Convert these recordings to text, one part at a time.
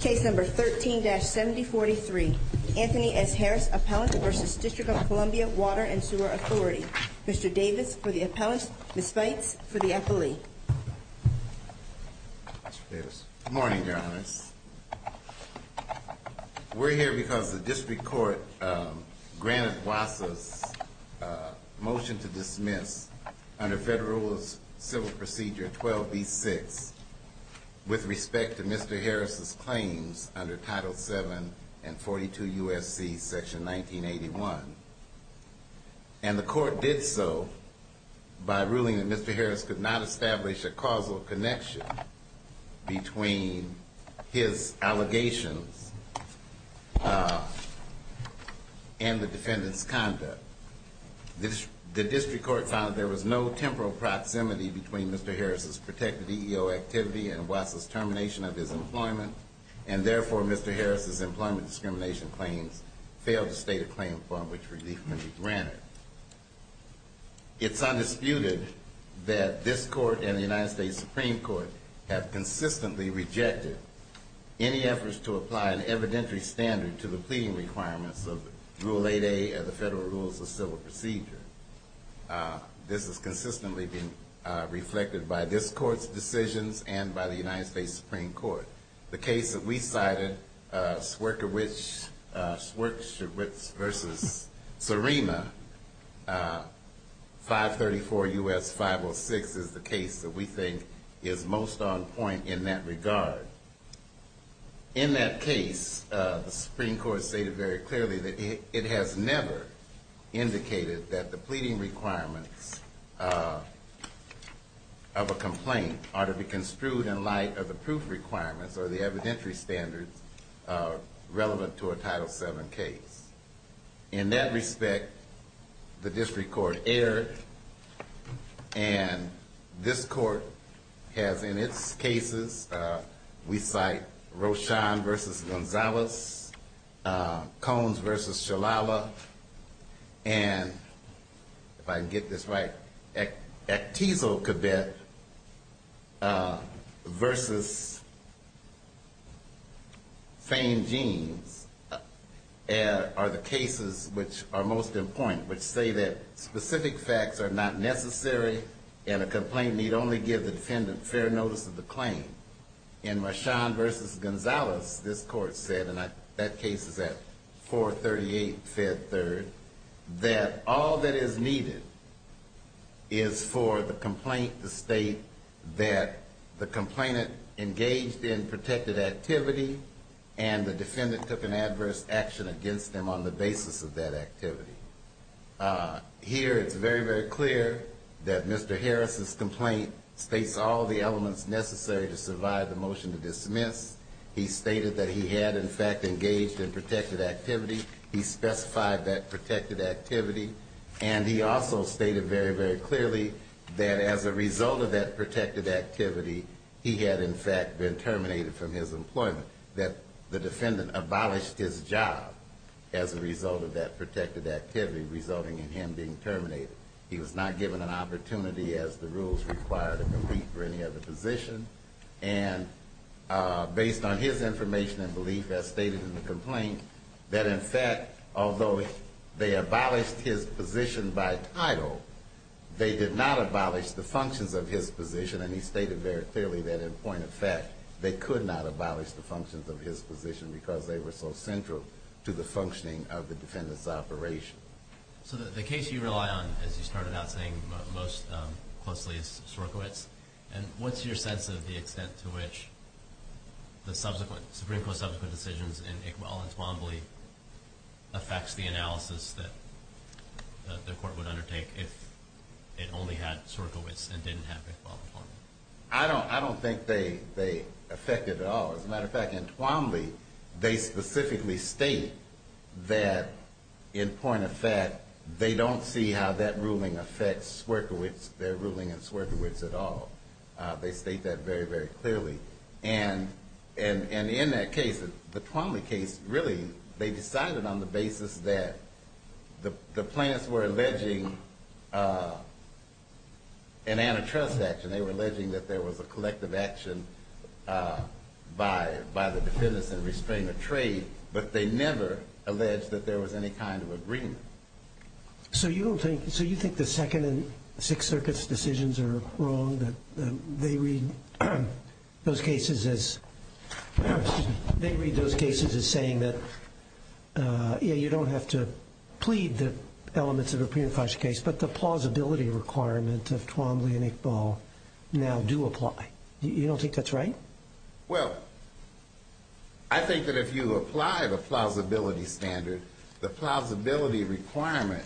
Case number 13-7043. Anthony S. Harris, Appellant v. District of Columbia Water and Sewer Authority. Mr. Davis for the appellant. Ms. Fates for the appellee. Good morning, Your Honors. We're here because the district court granted WSSDA's motion to dismiss under Federal Civil Procedure 12b-6 with respect to Mr. Harris' claims under Title VII and 42 U.S.C. Section 1981. And the court did so by ruling that Mr. Harris could not establish a causal connection between his allegations and the defendant's conduct. The district court found that there was no temporal proximity between Mr. Harris' protected EEO activity and WSSDA's termination of his employment, and therefore Mr. Harris' employment discrimination claims failed to state a claim for which relief could be granted. It's undisputed that this court and the United States Supreme Court have consistently rejected any efforts to apply an evidentiary standard to the pleading requirements of Rule 8a of the Federal Rules of Civil Procedure. This has consistently been reflected by this court's decisions and by the United States Supreme Court. The case that we cited, Swierkiewicz v. Serena, 534 U.S. 506, is the case that we think is most on point in that regard. In that case, the Supreme Court stated very clearly that it has never indicated that the pleading requirements of a complaint ought to be construed in light of the proof requirements or the evidentiary standards relevant to a Title VII case. In that respect, the district court erred, and this court has in its cases, we cite Roshon v. Gonzalez, Coens v. Shalala, and if I can get this right, Actizo-Kabet v. Fain-Jeans. These are the cases which are most important, which say that specific facts are not necessary, and a complaint need only give the defendant fair notice of the claim. In Roshon v. Gonzalez, this court said, and that case is at 438 Fed 3rd, that all that is needed is for the complaint to state that the complainant engaged in protected activity and the defendant took an adverse action against them on the basis of that activity. Here, it's very, very clear that Mr. Harris's complaint states all the elements necessary to survive the motion to dismiss. He stated that he had, in fact, engaged in protected activity. He specified that protected activity, and he also stated very, very clearly that as a result of that protected activity, he had, in fact, been terminated from his employment. That the defendant abolished his job as a result of that protected activity resulting in him being terminated. He was not given an opportunity, as the rules require, to compete for any other position. And based on his information and belief, as stated in the complaint, that in fact, although they abolished his position by title, they did not abolish the functions of his position. And he stated very clearly that in point of fact, they could not abolish the functions of his position because they were so central to the functioning of the defendant's operation. So the case you rely on, as you started out saying most closely, is Sierkiewicz. And what's your sense of the extent to which the subsequent, Supreme Court's subsequent decisions in Iqbal and Twombly affects the analysis that the Court would undertake if it only had Sierkiewicz and didn't have Iqbal? I don't think they affect it at all. As a matter of fact, in Twombly, they specifically state that in point of fact, they don't see how that ruling affects Sierkiewicz, their ruling in Sierkiewicz at all. They state that very, very clearly. And in that case, the Twombly case, really, they decided on the basis that the plaintiffs were alleging an antitrust action. They were alleging that there was a collective action by the defendants in restraining the trade, but they never alleged that there was any kind of agreement. So you think the Second and Sixth Circuit's decisions are wrong? They read those cases as saying that, yeah, you don't have to plead the elements of a pre-enfranchisement case, but the plausibility requirement of Twombly and Iqbal now do apply. You don't think that's right? Well, I think that if you apply the plausibility standard, the plausibility requirement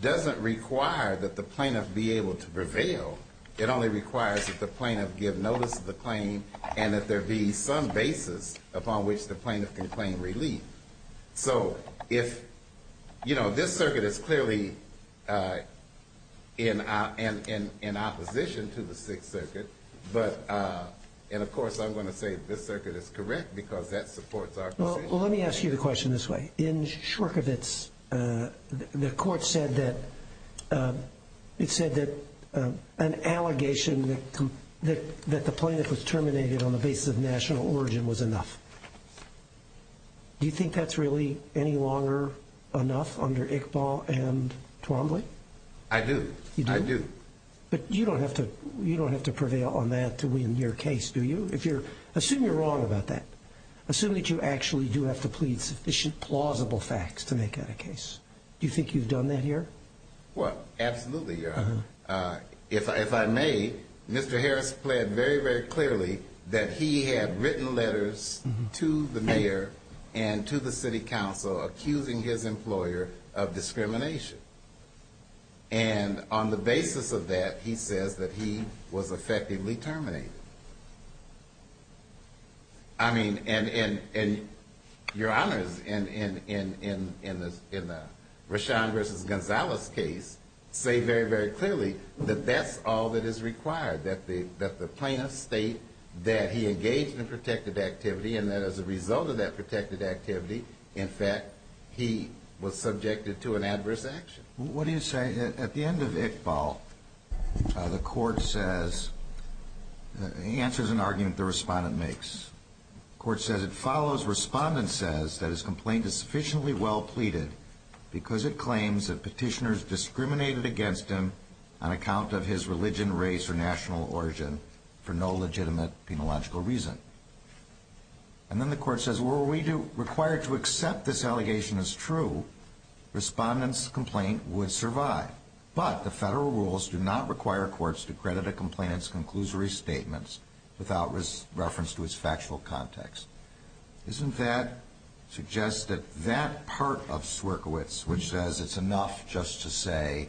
doesn't require that the plaintiff be able to prevail. It only requires that the plaintiff give notice of the claim and that there be some basis upon which the plaintiff can claim relief. So this circuit is clearly in opposition to the Sixth Circuit, and of course I'm going to say this circuit is correct because that supports our position. Well, let me ask you the question this way. In Sierkiewicz, the court said that an allegation that the plaintiff was terminated on the basis of national origin was enough. Do you think that's really any longer enough under Iqbal and Twombly? I do. I do. But you don't have to prevail on that to win your case, do you? Assume you're wrong about that. Assume that you actually do have to plead sufficient plausible facts to make that a case. Do you think you've done that here? Well, absolutely, Your Honor. If I may, Mr. Harris pled very, very clearly that he had written letters to the mayor and to the city council accusing his employer of discrimination. And on the basis of that, he says that he was effectively terminated. I mean, and Your Honors, in the Rashan v. Gonzalez case, say very, very clearly that that's all that is required, that the plaintiff state that he engaged in protected activity and that as a result of that protected activity, in fact, he was subjected to an adverse action. What do you say? At the end of Iqbal, the court says, answers an argument the respondent makes. The court says it follows, respondent says that his complaint is sufficiently well pleaded because it claims that petitioners discriminated against him on account of his religion, race, or national origin for no legitimate, penological reason. And then the court says, were we required to accept this allegation as true, respondent's complaint would survive. But the federal rules do not require courts to credit a complainant's conclusory statements without reference to its factual context. Isn't that suggest that that part of Swerkiewicz, which says it's enough just to say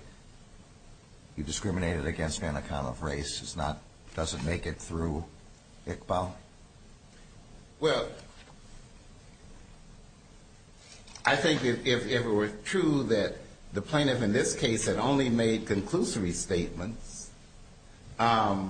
you discriminated against me on account of race, is not, doesn't make it through Iqbal? Well, I think if it were true that the plaintiff in this case had only made conclusory statements, I'd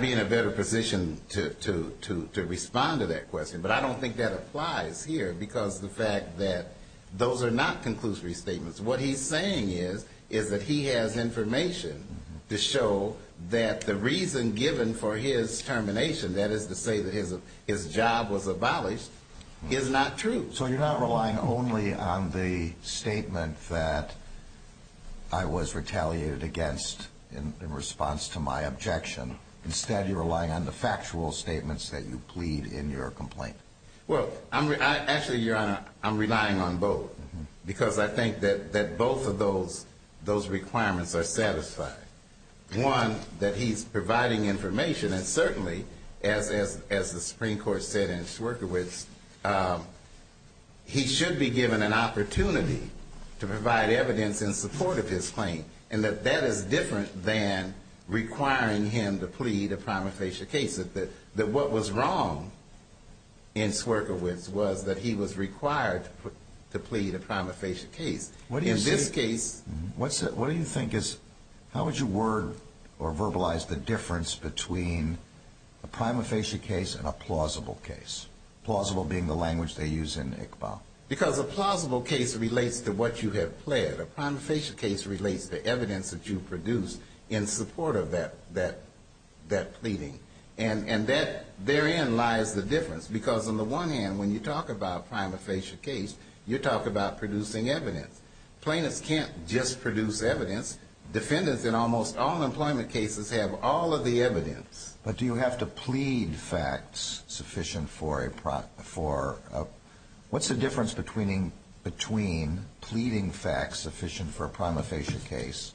be in a better position to respond to that question. But I don't think that applies here because of the fact that those are not conclusory statements. What he's saying is, is that he has information to show that the reason given for his termination, that is to say that his job was abolished, is not true. So you're not relying only on the statement that I was retaliated against in response to my objection. Instead, you're relying on the factual statements that you plead in your complaint. Well, actually, Your Honor, I'm relying on both because I think that both of those requirements are satisfied. One, that he's providing information, and certainly, as the Supreme Court said in Swerkiewicz, he should be given an opportunity to provide evidence in support of his claim. And that that is different than requiring him to plead a prima facie case. That what was wrong in Swerkiewicz was that he was required to plead a prima facie case. What do you think is, how would you word or verbalize the difference between a prima facie case and a plausible case? Plausible being the language they use in Iqbal. Because a plausible case relates to what you have pled. A prima facie case relates to evidence that you produced in support of that pleading. And therein lies the difference, because on the one hand, when you talk about a prima facie case, you're talking about producing evidence. Plaintiffs can't just produce evidence. Defendants in almost all employment cases have all of the evidence. But do you have to plead facts sufficient for a, what's the difference between pleading facts sufficient for a prima facie case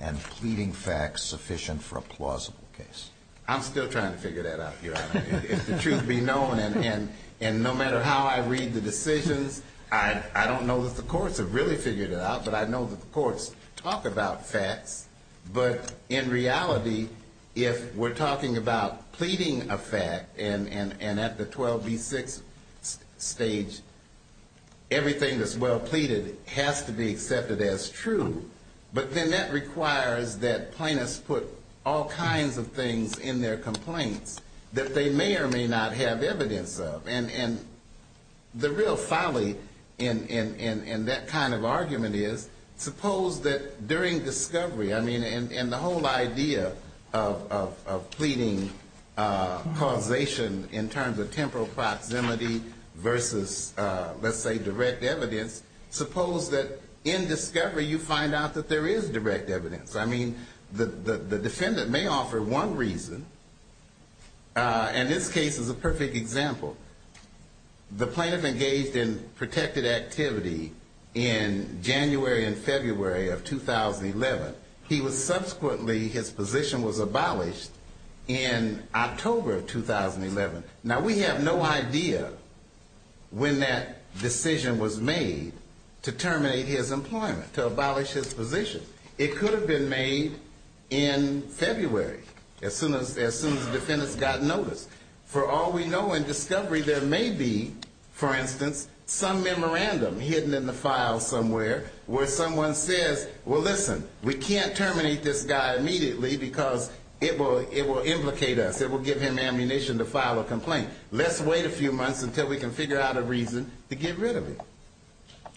and pleading facts sufficient for a plausible case? I'm still trying to figure that out, Your Honor. If the truth be known, and no matter how I read the decisions, I don't know that the courts have really figured it out, but I know that the courts talk about facts. But in reality, if we're talking about pleading a fact, and at the 12B6 stage, everything that's well pleaded has to be accepted as true. But then that requires that plaintiffs put all kinds of things in their complaints that they may or may not have evidence of. And the real folly in that kind of argument is, suppose that during discovery, I mean, and the whole idea of pleading causation in terms of temporal proximity versus, let's say, direct evidence, suppose that in discovery, you find out that there is direct evidence. I mean, the defendant may offer one reason, and this case is a perfect example. The plaintiff engaged in protected activity in January and February of 2011. He was subsequently, his position was abolished in October of 2011. Now, we have no idea when that decision was made to terminate his employment, to abolish his position. It could have been made in February, as soon as the defendants got notice. For all we know in discovery, there may be, for instance, some memorandum hidden in the file somewhere where someone says, well, listen, we can't terminate this guy immediately because it will implicate us, it will give him ammunition to file a complaint. Let's wait a few months until we can figure out a reason to get rid of him,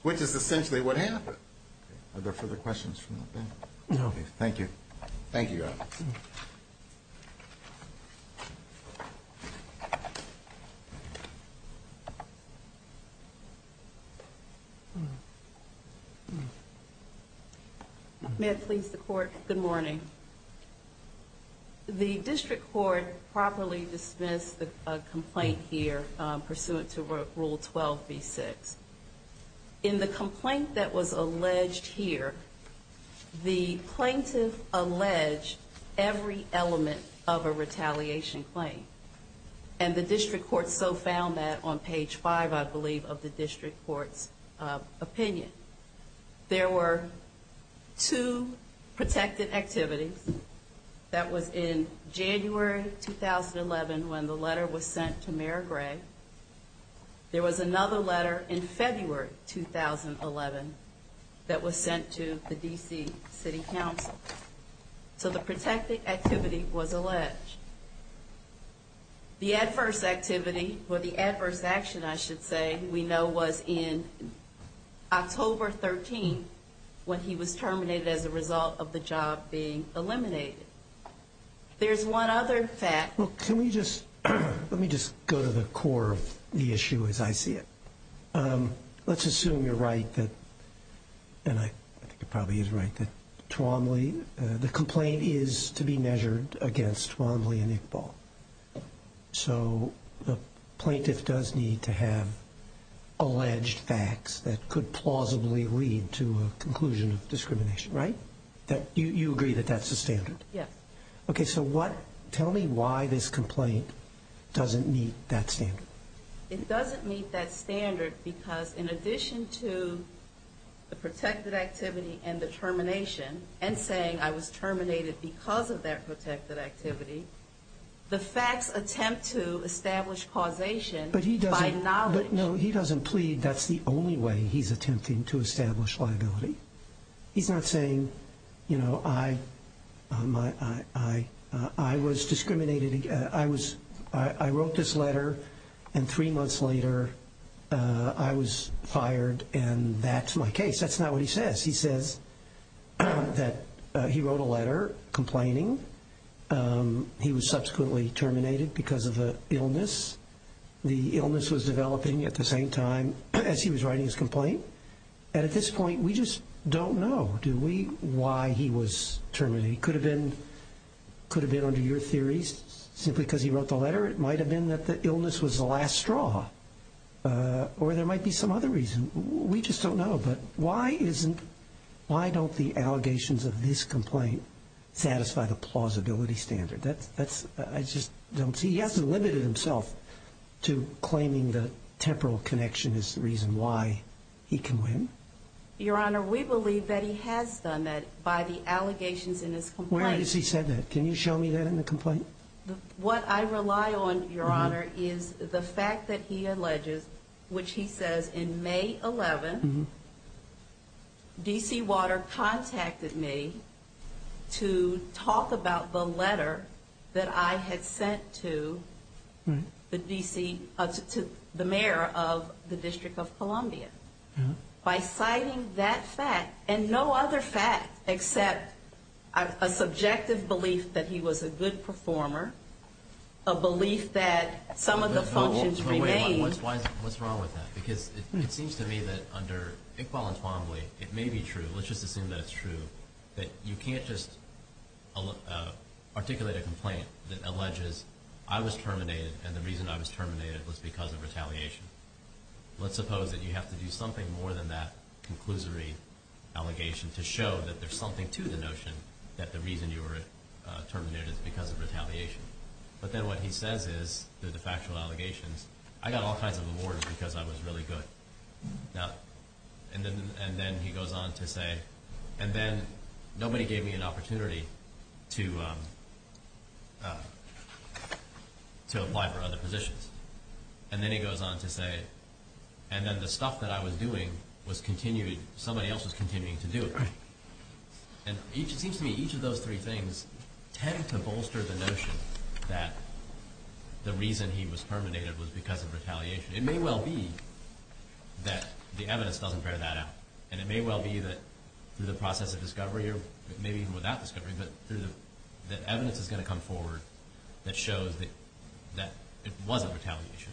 which is essentially what happened. Are there further questions from the panel? No. Thank you. Thank you, Your Honor. May it please the Court, good morning. The District Court properly dismissed a complaint here pursuant to Rule 12b-6. In the complaint that was alleged here, the plaintiff alleged every element of a retaliation claim. And the District Court so found that on page five, I believe, of the District Court's opinion. There were two protected activities. That was in January 2011 when the letter was sent to Mayor Gray. There was another letter in February 2011 that was sent to the D.C. City Council. So the protected activity was alleged. The adverse activity, or the adverse action, I should say, we know was in October 13 when he was terminated as a result of the job being eliminated. There's one other fact. Let me just go to the core of the issue as I see it. Let's assume you're right, and I think you're probably right, that the complaint is to be measured against Twombly and Iqbal. So the plaintiff does need to have alleged facts that could plausibly lead to a conclusion of discrimination, right? You agree that that's the standard? Yes. Okay, so tell me why this complaint doesn't meet that standard. It doesn't meet that standard because in addition to the protected activity and the termination, and saying I was terminated because of that protected activity, the facts attempt to establish causation by knowledge. But he doesn't plead that's the only way he's attempting to establish liability. He's not saying, you know, I was discriminated against, I wrote this letter and three months later I was fired and that's my case. That's not what he says. He says that he wrote a letter complaining he was subsequently terminated because of an illness. The illness was developing at the same time as he was writing his complaint, and at this point we just don't know, do we, why he was terminated. It could have been under your theories simply because he wrote the letter. It might have been that the illness was the last straw, or there might be some other reason. We just don't know. But why isn't, why don't the allegations of this complaint satisfy the plausibility standard? That's, I just don't see, he hasn't limited himself to claiming the temporal connection is the reason why he can win. Your Honor, we believe that he has done that by the allegations in his complaint. Where is he said that? Can you show me that in the complaint? What I rely on, Your Honor, is the fact that he alleges, which he says in May 11, D.C. Water contacted me to talk about the letter that I had sent to the D.C., to the mayor of the District of Columbia. By citing that fact, and no other fact except a subjective belief that he was a good performer. A belief that some of the functions remain. What's wrong with that? Because it seems to me that under Iqbal and Twombly, it may be true, let's just assume that it's true, that you can't just articulate a complaint that alleges I was terminated and the reason I was terminated was because of retaliation. Let's suppose that you have to do something more than that conclusory allegation to show that there's something to the notion that the reason you were terminated is because of retaliation. But then what he says is, the de facto allegations, I got all kinds of awards because I was really good. And then he goes on to say, and then nobody gave me an opportunity to apply for other positions. And then he goes on to say, and then the stuff that I was doing was continued, somebody else was continuing to do it. And it seems to me each of those three things tend to bolster the notion that the reason he was terminated was because of retaliation. It may well be that the evidence doesn't bear that out. And it may well be that through the process of discovery, or maybe even without discovery, that evidence is going to come forward that shows that it wasn't retaliation.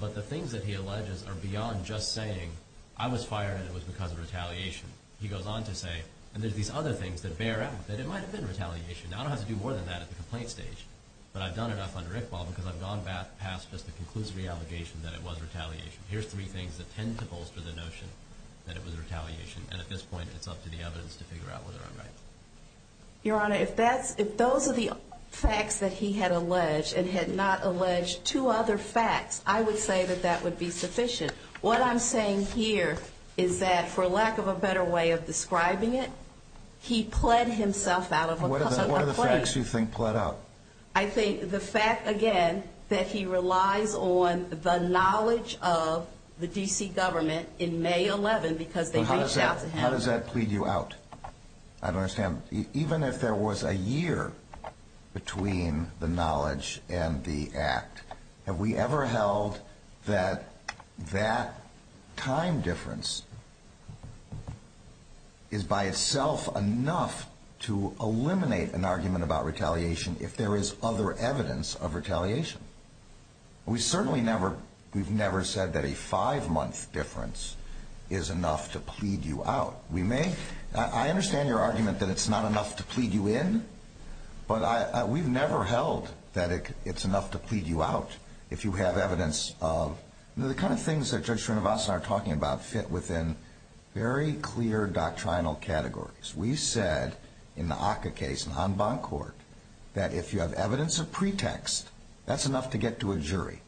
But the things that he alleges are beyond just saying, I was fired and it was because of retaliation. He goes on to say, and there's these other things that bear out, that it might have been retaliation. Now, I don't have to do more than that at the complaint stage, but I've done enough under Iqbal because I've gone past just the conclusory allegation that it was retaliation. Here's three things that tend to bolster the notion that it was retaliation. And at this point, it's up to the evidence to figure out whether I'm right. Your Honor, if those are the facts that he had alleged and had not alleged two other facts, I would say that that would be sufficient. What I'm saying here is that for lack of a better way of describing it, he pled himself out of a complaint. What are the facts you think pled out? I think the fact, again, that he relies on the knowledge of the D.C. government in May 11 because they reached out to him. Well, how does that plead you out? I don't understand. Even if there was a year between the knowledge and the act, have we ever held that that time difference is by itself enough to eliminate an argument about retaliation if that was the case? We certainly have never held that there is other evidence of retaliation. We certainly never, we've never said that a five-month difference is enough to plead you out. We may, I understand your argument that it's not enough to plead you in, but we've never held that it's enough to plead you out if you have evidence of, you know, the kind of things that Judge Srinivasan are talking about fit within very clear doctrinal categories. We said in the Acca case on Boncourt that if you have evidence of pretext, that's enough to get to a jury.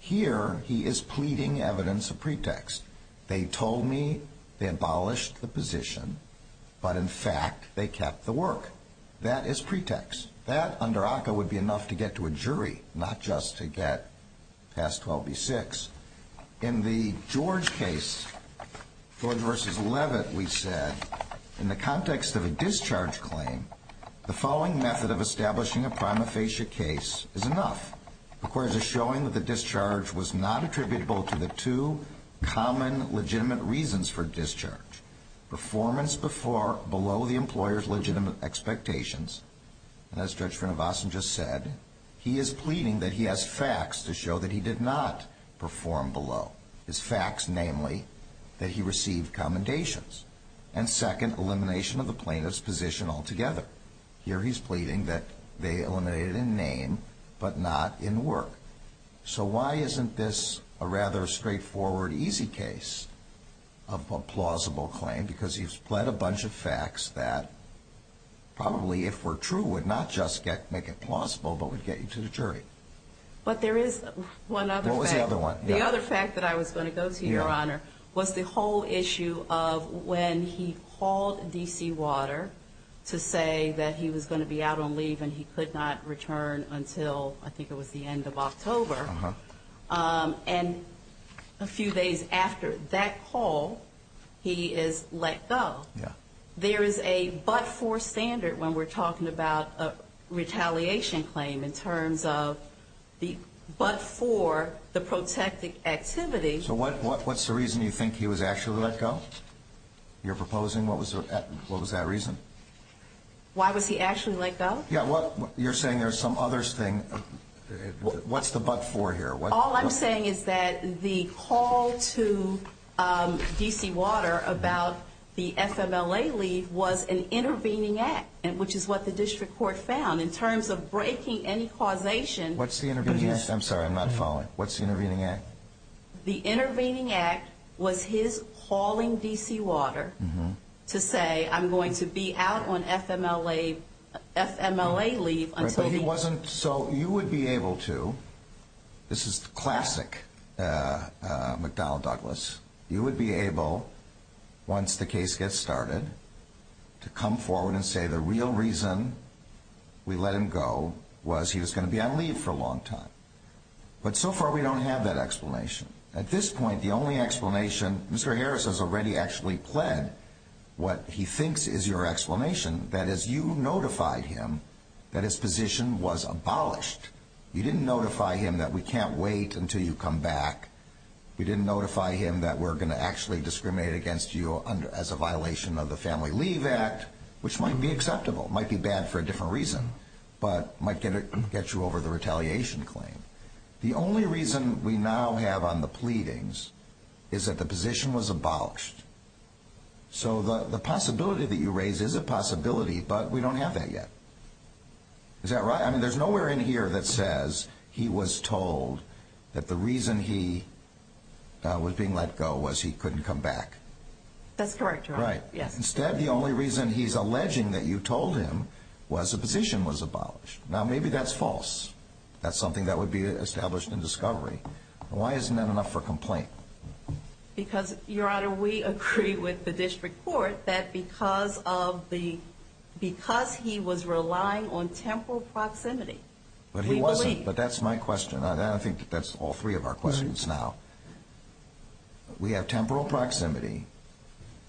Here, he is pleading evidence of pretext. They told me they abolished the position, but in fact they kept the work. That is pretext. That under Acca would be enough to get to a jury, not just to get past 12B6. In the George case, George v. Levitt, we said in the context of a discharge claim, the following method of establishing a prima facie case is enough. Requires a showing that the discharge was not attributable to the two common legitimate reasons for discharge. Performance below the employer's legitimate expectations. And as Judge Srinivasan just said, he is pleading that he has facts to show that he did not perform below. His facts, namely, that he received commendations. And second, elimination of the plaintiff's position altogether. Here, he's pleading that they eliminated in name, but not in work. So why isn't this a rather straightforward, easy case of a plausible claim? Because he's pled a bunch of facts that probably, if were true, would not just make it plausible, but would get you to the jury. But there is one other fact. The other fact that I was going to go to, Your Honor, was the whole issue of when he called D.C. Water to say that he was going to be out on leave and he could not return until, I think it was the end of October. And a few days after that call, he is let go. There is a but-for standard when we're talking about a retaliation claim, in terms of the but-for, the protection of the claim. So what's the reason you think he was actually let go? You're proposing? What was that reason? Why was he actually let go? You're saying there's some other thing. What's the but-for here? All I'm saying is that the call to D.C. Water about the FMLA leave was an intervening act, which is what the district court found. In terms of breaking any causation... What's the intervening act? I'm sorry, I'm not following. What's the intervening act? The intervening act was his calling D.C. Water to say, I'm going to be out on FMLA leave until... But he wasn't... So you would be able to... This is classic McDowell Douglas. You would be able, once the case gets started, to come forward and say the real reason we let him go was he was going to be on leave for a long time. But so far we don't have that explanation. At this point, the only explanation... Mr. Harris has already actually pled what he thinks is your explanation. That is, you notified him that his position was abolished. You didn't notify him that we can't wait until you come back. You didn't notify him that we're going to actually discriminate against you as a violation of the Family Leave Act, which might be acceptable. It might be bad for a different reason, but it might get you over the retaliation claim. The only reason we now have on the pleadings is that the position was abolished. So the possibility that you raise is a possibility, but we don't have that yet. Is that right? I mean, there's nowhere in here that says he was told that the reason he was being let go was he couldn't come back. That's correct, Your Honor. Instead, the only reason he's alleging that you told him was the position was abolished. Now, maybe that's false. That's something that would be established in discovery. Why isn't that enough for complaint? Because, Your Honor, we agree with the District Court that because he was relying on temporal proximity... But he wasn't. But that's my question. I think that's all three of our questions now. We have temporal proximity.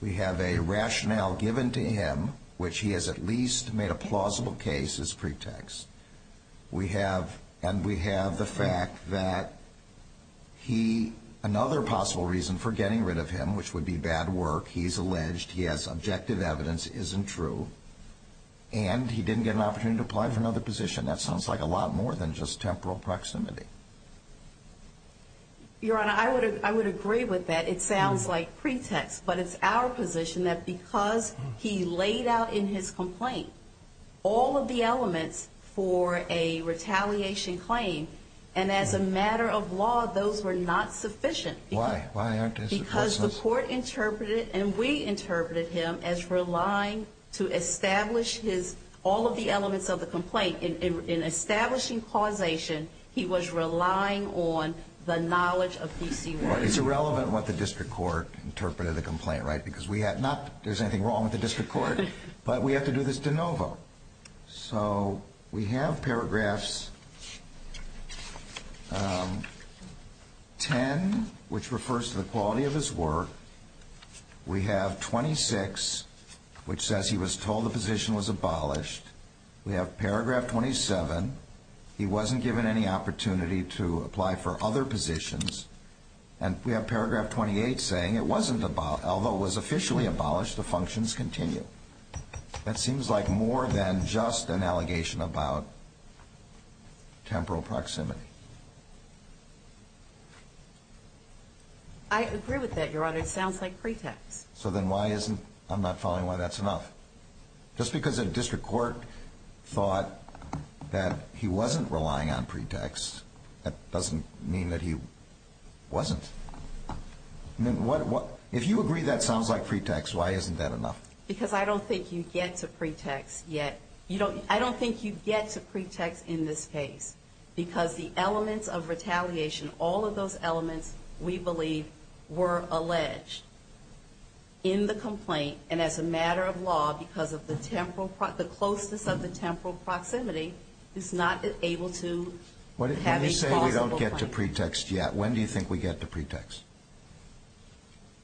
We have a rationale given to him, which he has at least made a plausible case as pretext. And we have the fact that another possible reason for getting rid of him, which would be bad work, he's alleged, he has objective evidence, isn't true. And he didn't get an opportunity to apply for another position. That sounds like a lot more than just temporal proximity. Your Honor, I would agree with that. It sounds like pretext. But it's our position that because he laid out in his complaint all of the elements for a retaliation claim, and as a matter of law, those were not sufficient. Why? Why aren't those sufficient? Because the court interpreted, and we interpreted him as relying to establish all of the elements of the complaint. In establishing causation, he was relying on the knowledge of PC1. Well, it's irrelevant what the District Court interpreted of the complaint, right? Because we have not... There's anything wrong with the District Court. But we have to do this de novo. So we have paragraphs 10, which refers to the quality of his work. We have 26, which says he was told the position was abolished. We have paragraph 27, he wasn't given any opportunity to apply for other positions. And we have paragraph 28 saying, although it was officially abolished, the functions continue. That seems like more than just an allegation about temporal proximity. I agree with that, Your Honor. It sounds like pretext. So then why isn't... I'm not following why that's enough. Just because the District Court thought that he wasn't relying on pretext, that doesn't mean that he wasn't. If you agree that sounds like pretext, why isn't that enough? Because I don't think you get to pretext yet. I don't think you get to pretext in this case. Because the elements of retaliation, all of those elements, we believe, were alleged in the complaint. And as a matter of law, because of the closeness of the temporal proximity, it's not able to have a plausible claim. I don't think you get to pretext yet. When do you think we get to pretext?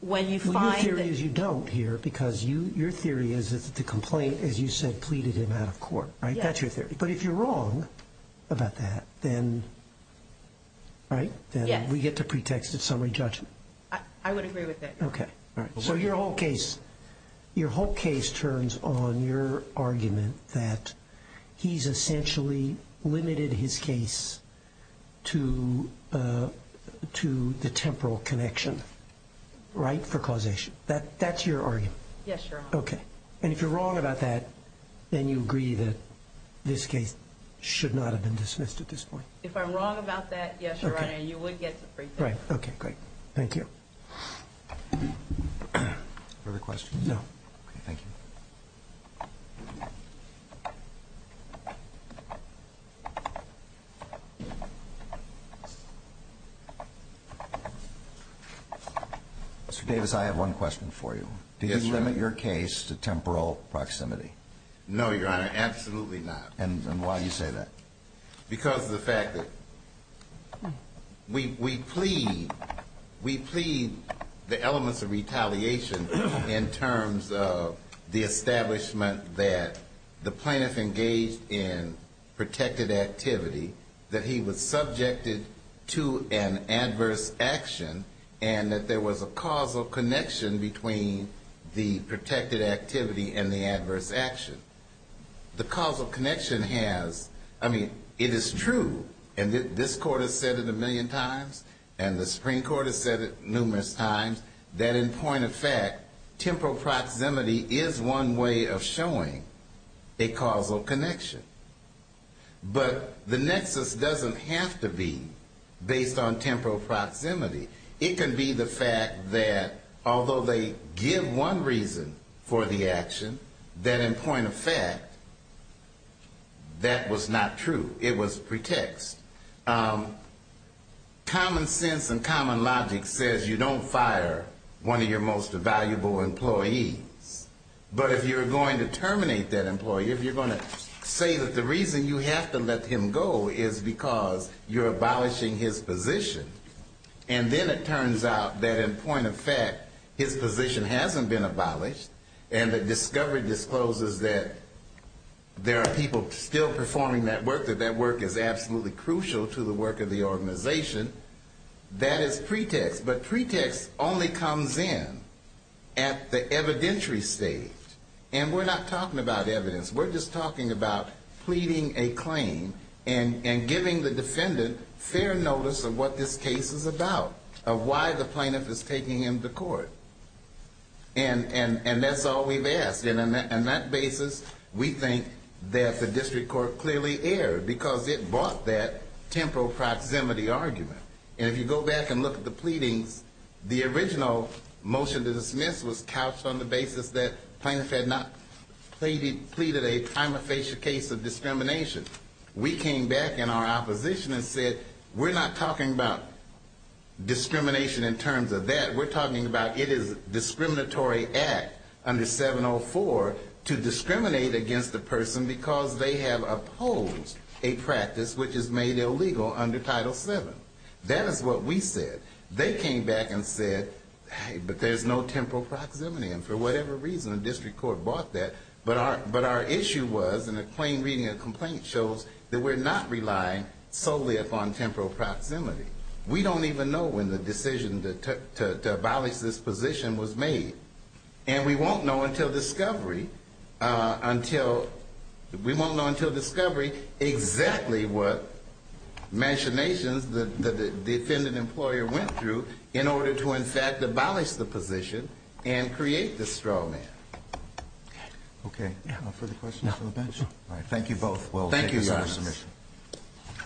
Your theory is you don't here, because your theory is that the complaint, as you said, pleaded him out of court. That's your theory. But if you're wrong about that, then we get to pretext at summary judgment. I would agree with that. So your whole case turns on your argument that he's essentially limited his case to the temporal connection, right, for causation. That's your argument. Yes, Your Honor. And if you're wrong about that, then you agree that this case should not have been dismissed at this point. If I'm wrong about that, yes, Your Honor, you would get to pretext. Right. Okay, great. Thank you. Further questions? No. Okay, thank you. Mr. Davis, I have one question for you. Yes, Your Honor. Do you limit your case to temporal proximity? No, Your Honor, absolutely not. And why do you say that? Because of the fact that we plead the elements of retaliation in terms of the establishment that the plaintiff engaged in protected activity, that he was subjected to an adverse action, and that there was a causal connection between the protected activity and the adverse action. The causal connection has, I mean, it is true, and this Court has said it a million times, and the Supreme Court has said it numerous times, that in point of fact, temporal proximity is one way of showing a causal connection. But the nexus doesn't have to be based on temporal proximity. It can be the fact that although they give one reason for the action, that in point of fact, that was not true. It was pretext. Common sense and common logic says you don't fire one of your most valuable employees. But if you're going to terminate that employee, if you're going to say that the reason you have to let him go is because you're abolishing his position, and then it turns out that in point of fact, his position hasn't been abolished, and the discovery discloses that there are people still performing that work, that that work is absolutely crucial to the work of the organization, that is pretext. But pretext only comes in at the evidentiary stage, and we're not talking about evidence. We're just talking about pleading a claim and giving the defendant fair notice of what this case is about, of why the plaintiff is taking him to court. And that's all we've asked. And on that basis, we think that the district court clearly erred, because it bought that temporal proximity argument. And if you go back and look at the pleadings, the original motion to dismiss was couched on the basis that the plaintiff had not pleaded a time of facial case of discrimination. We came back in our opposition and said, we're not talking about discrimination in terms of that. We're talking about it is a discriminatory act under 704 to discriminate against a person because they have opposed a practice which is made illegal under Title VII. That is what we said. They came back and said, hey, but there's no temporal proximity. And for whatever reason, the district court bought that. But our issue was, and a claim reading a complaint shows, that we're not relying solely upon temporal proximity. We don't even know when the decision to abolish this position was made. And we won't know until discovery, until, we won't know until discovery exactly what machinations the defendant employer went through. In order to, in fact, abolish the position and create the straw man. Okay. No further questions from the bench? No. All right. Thank you both. Thank you, Your Honor. We'll take another submission.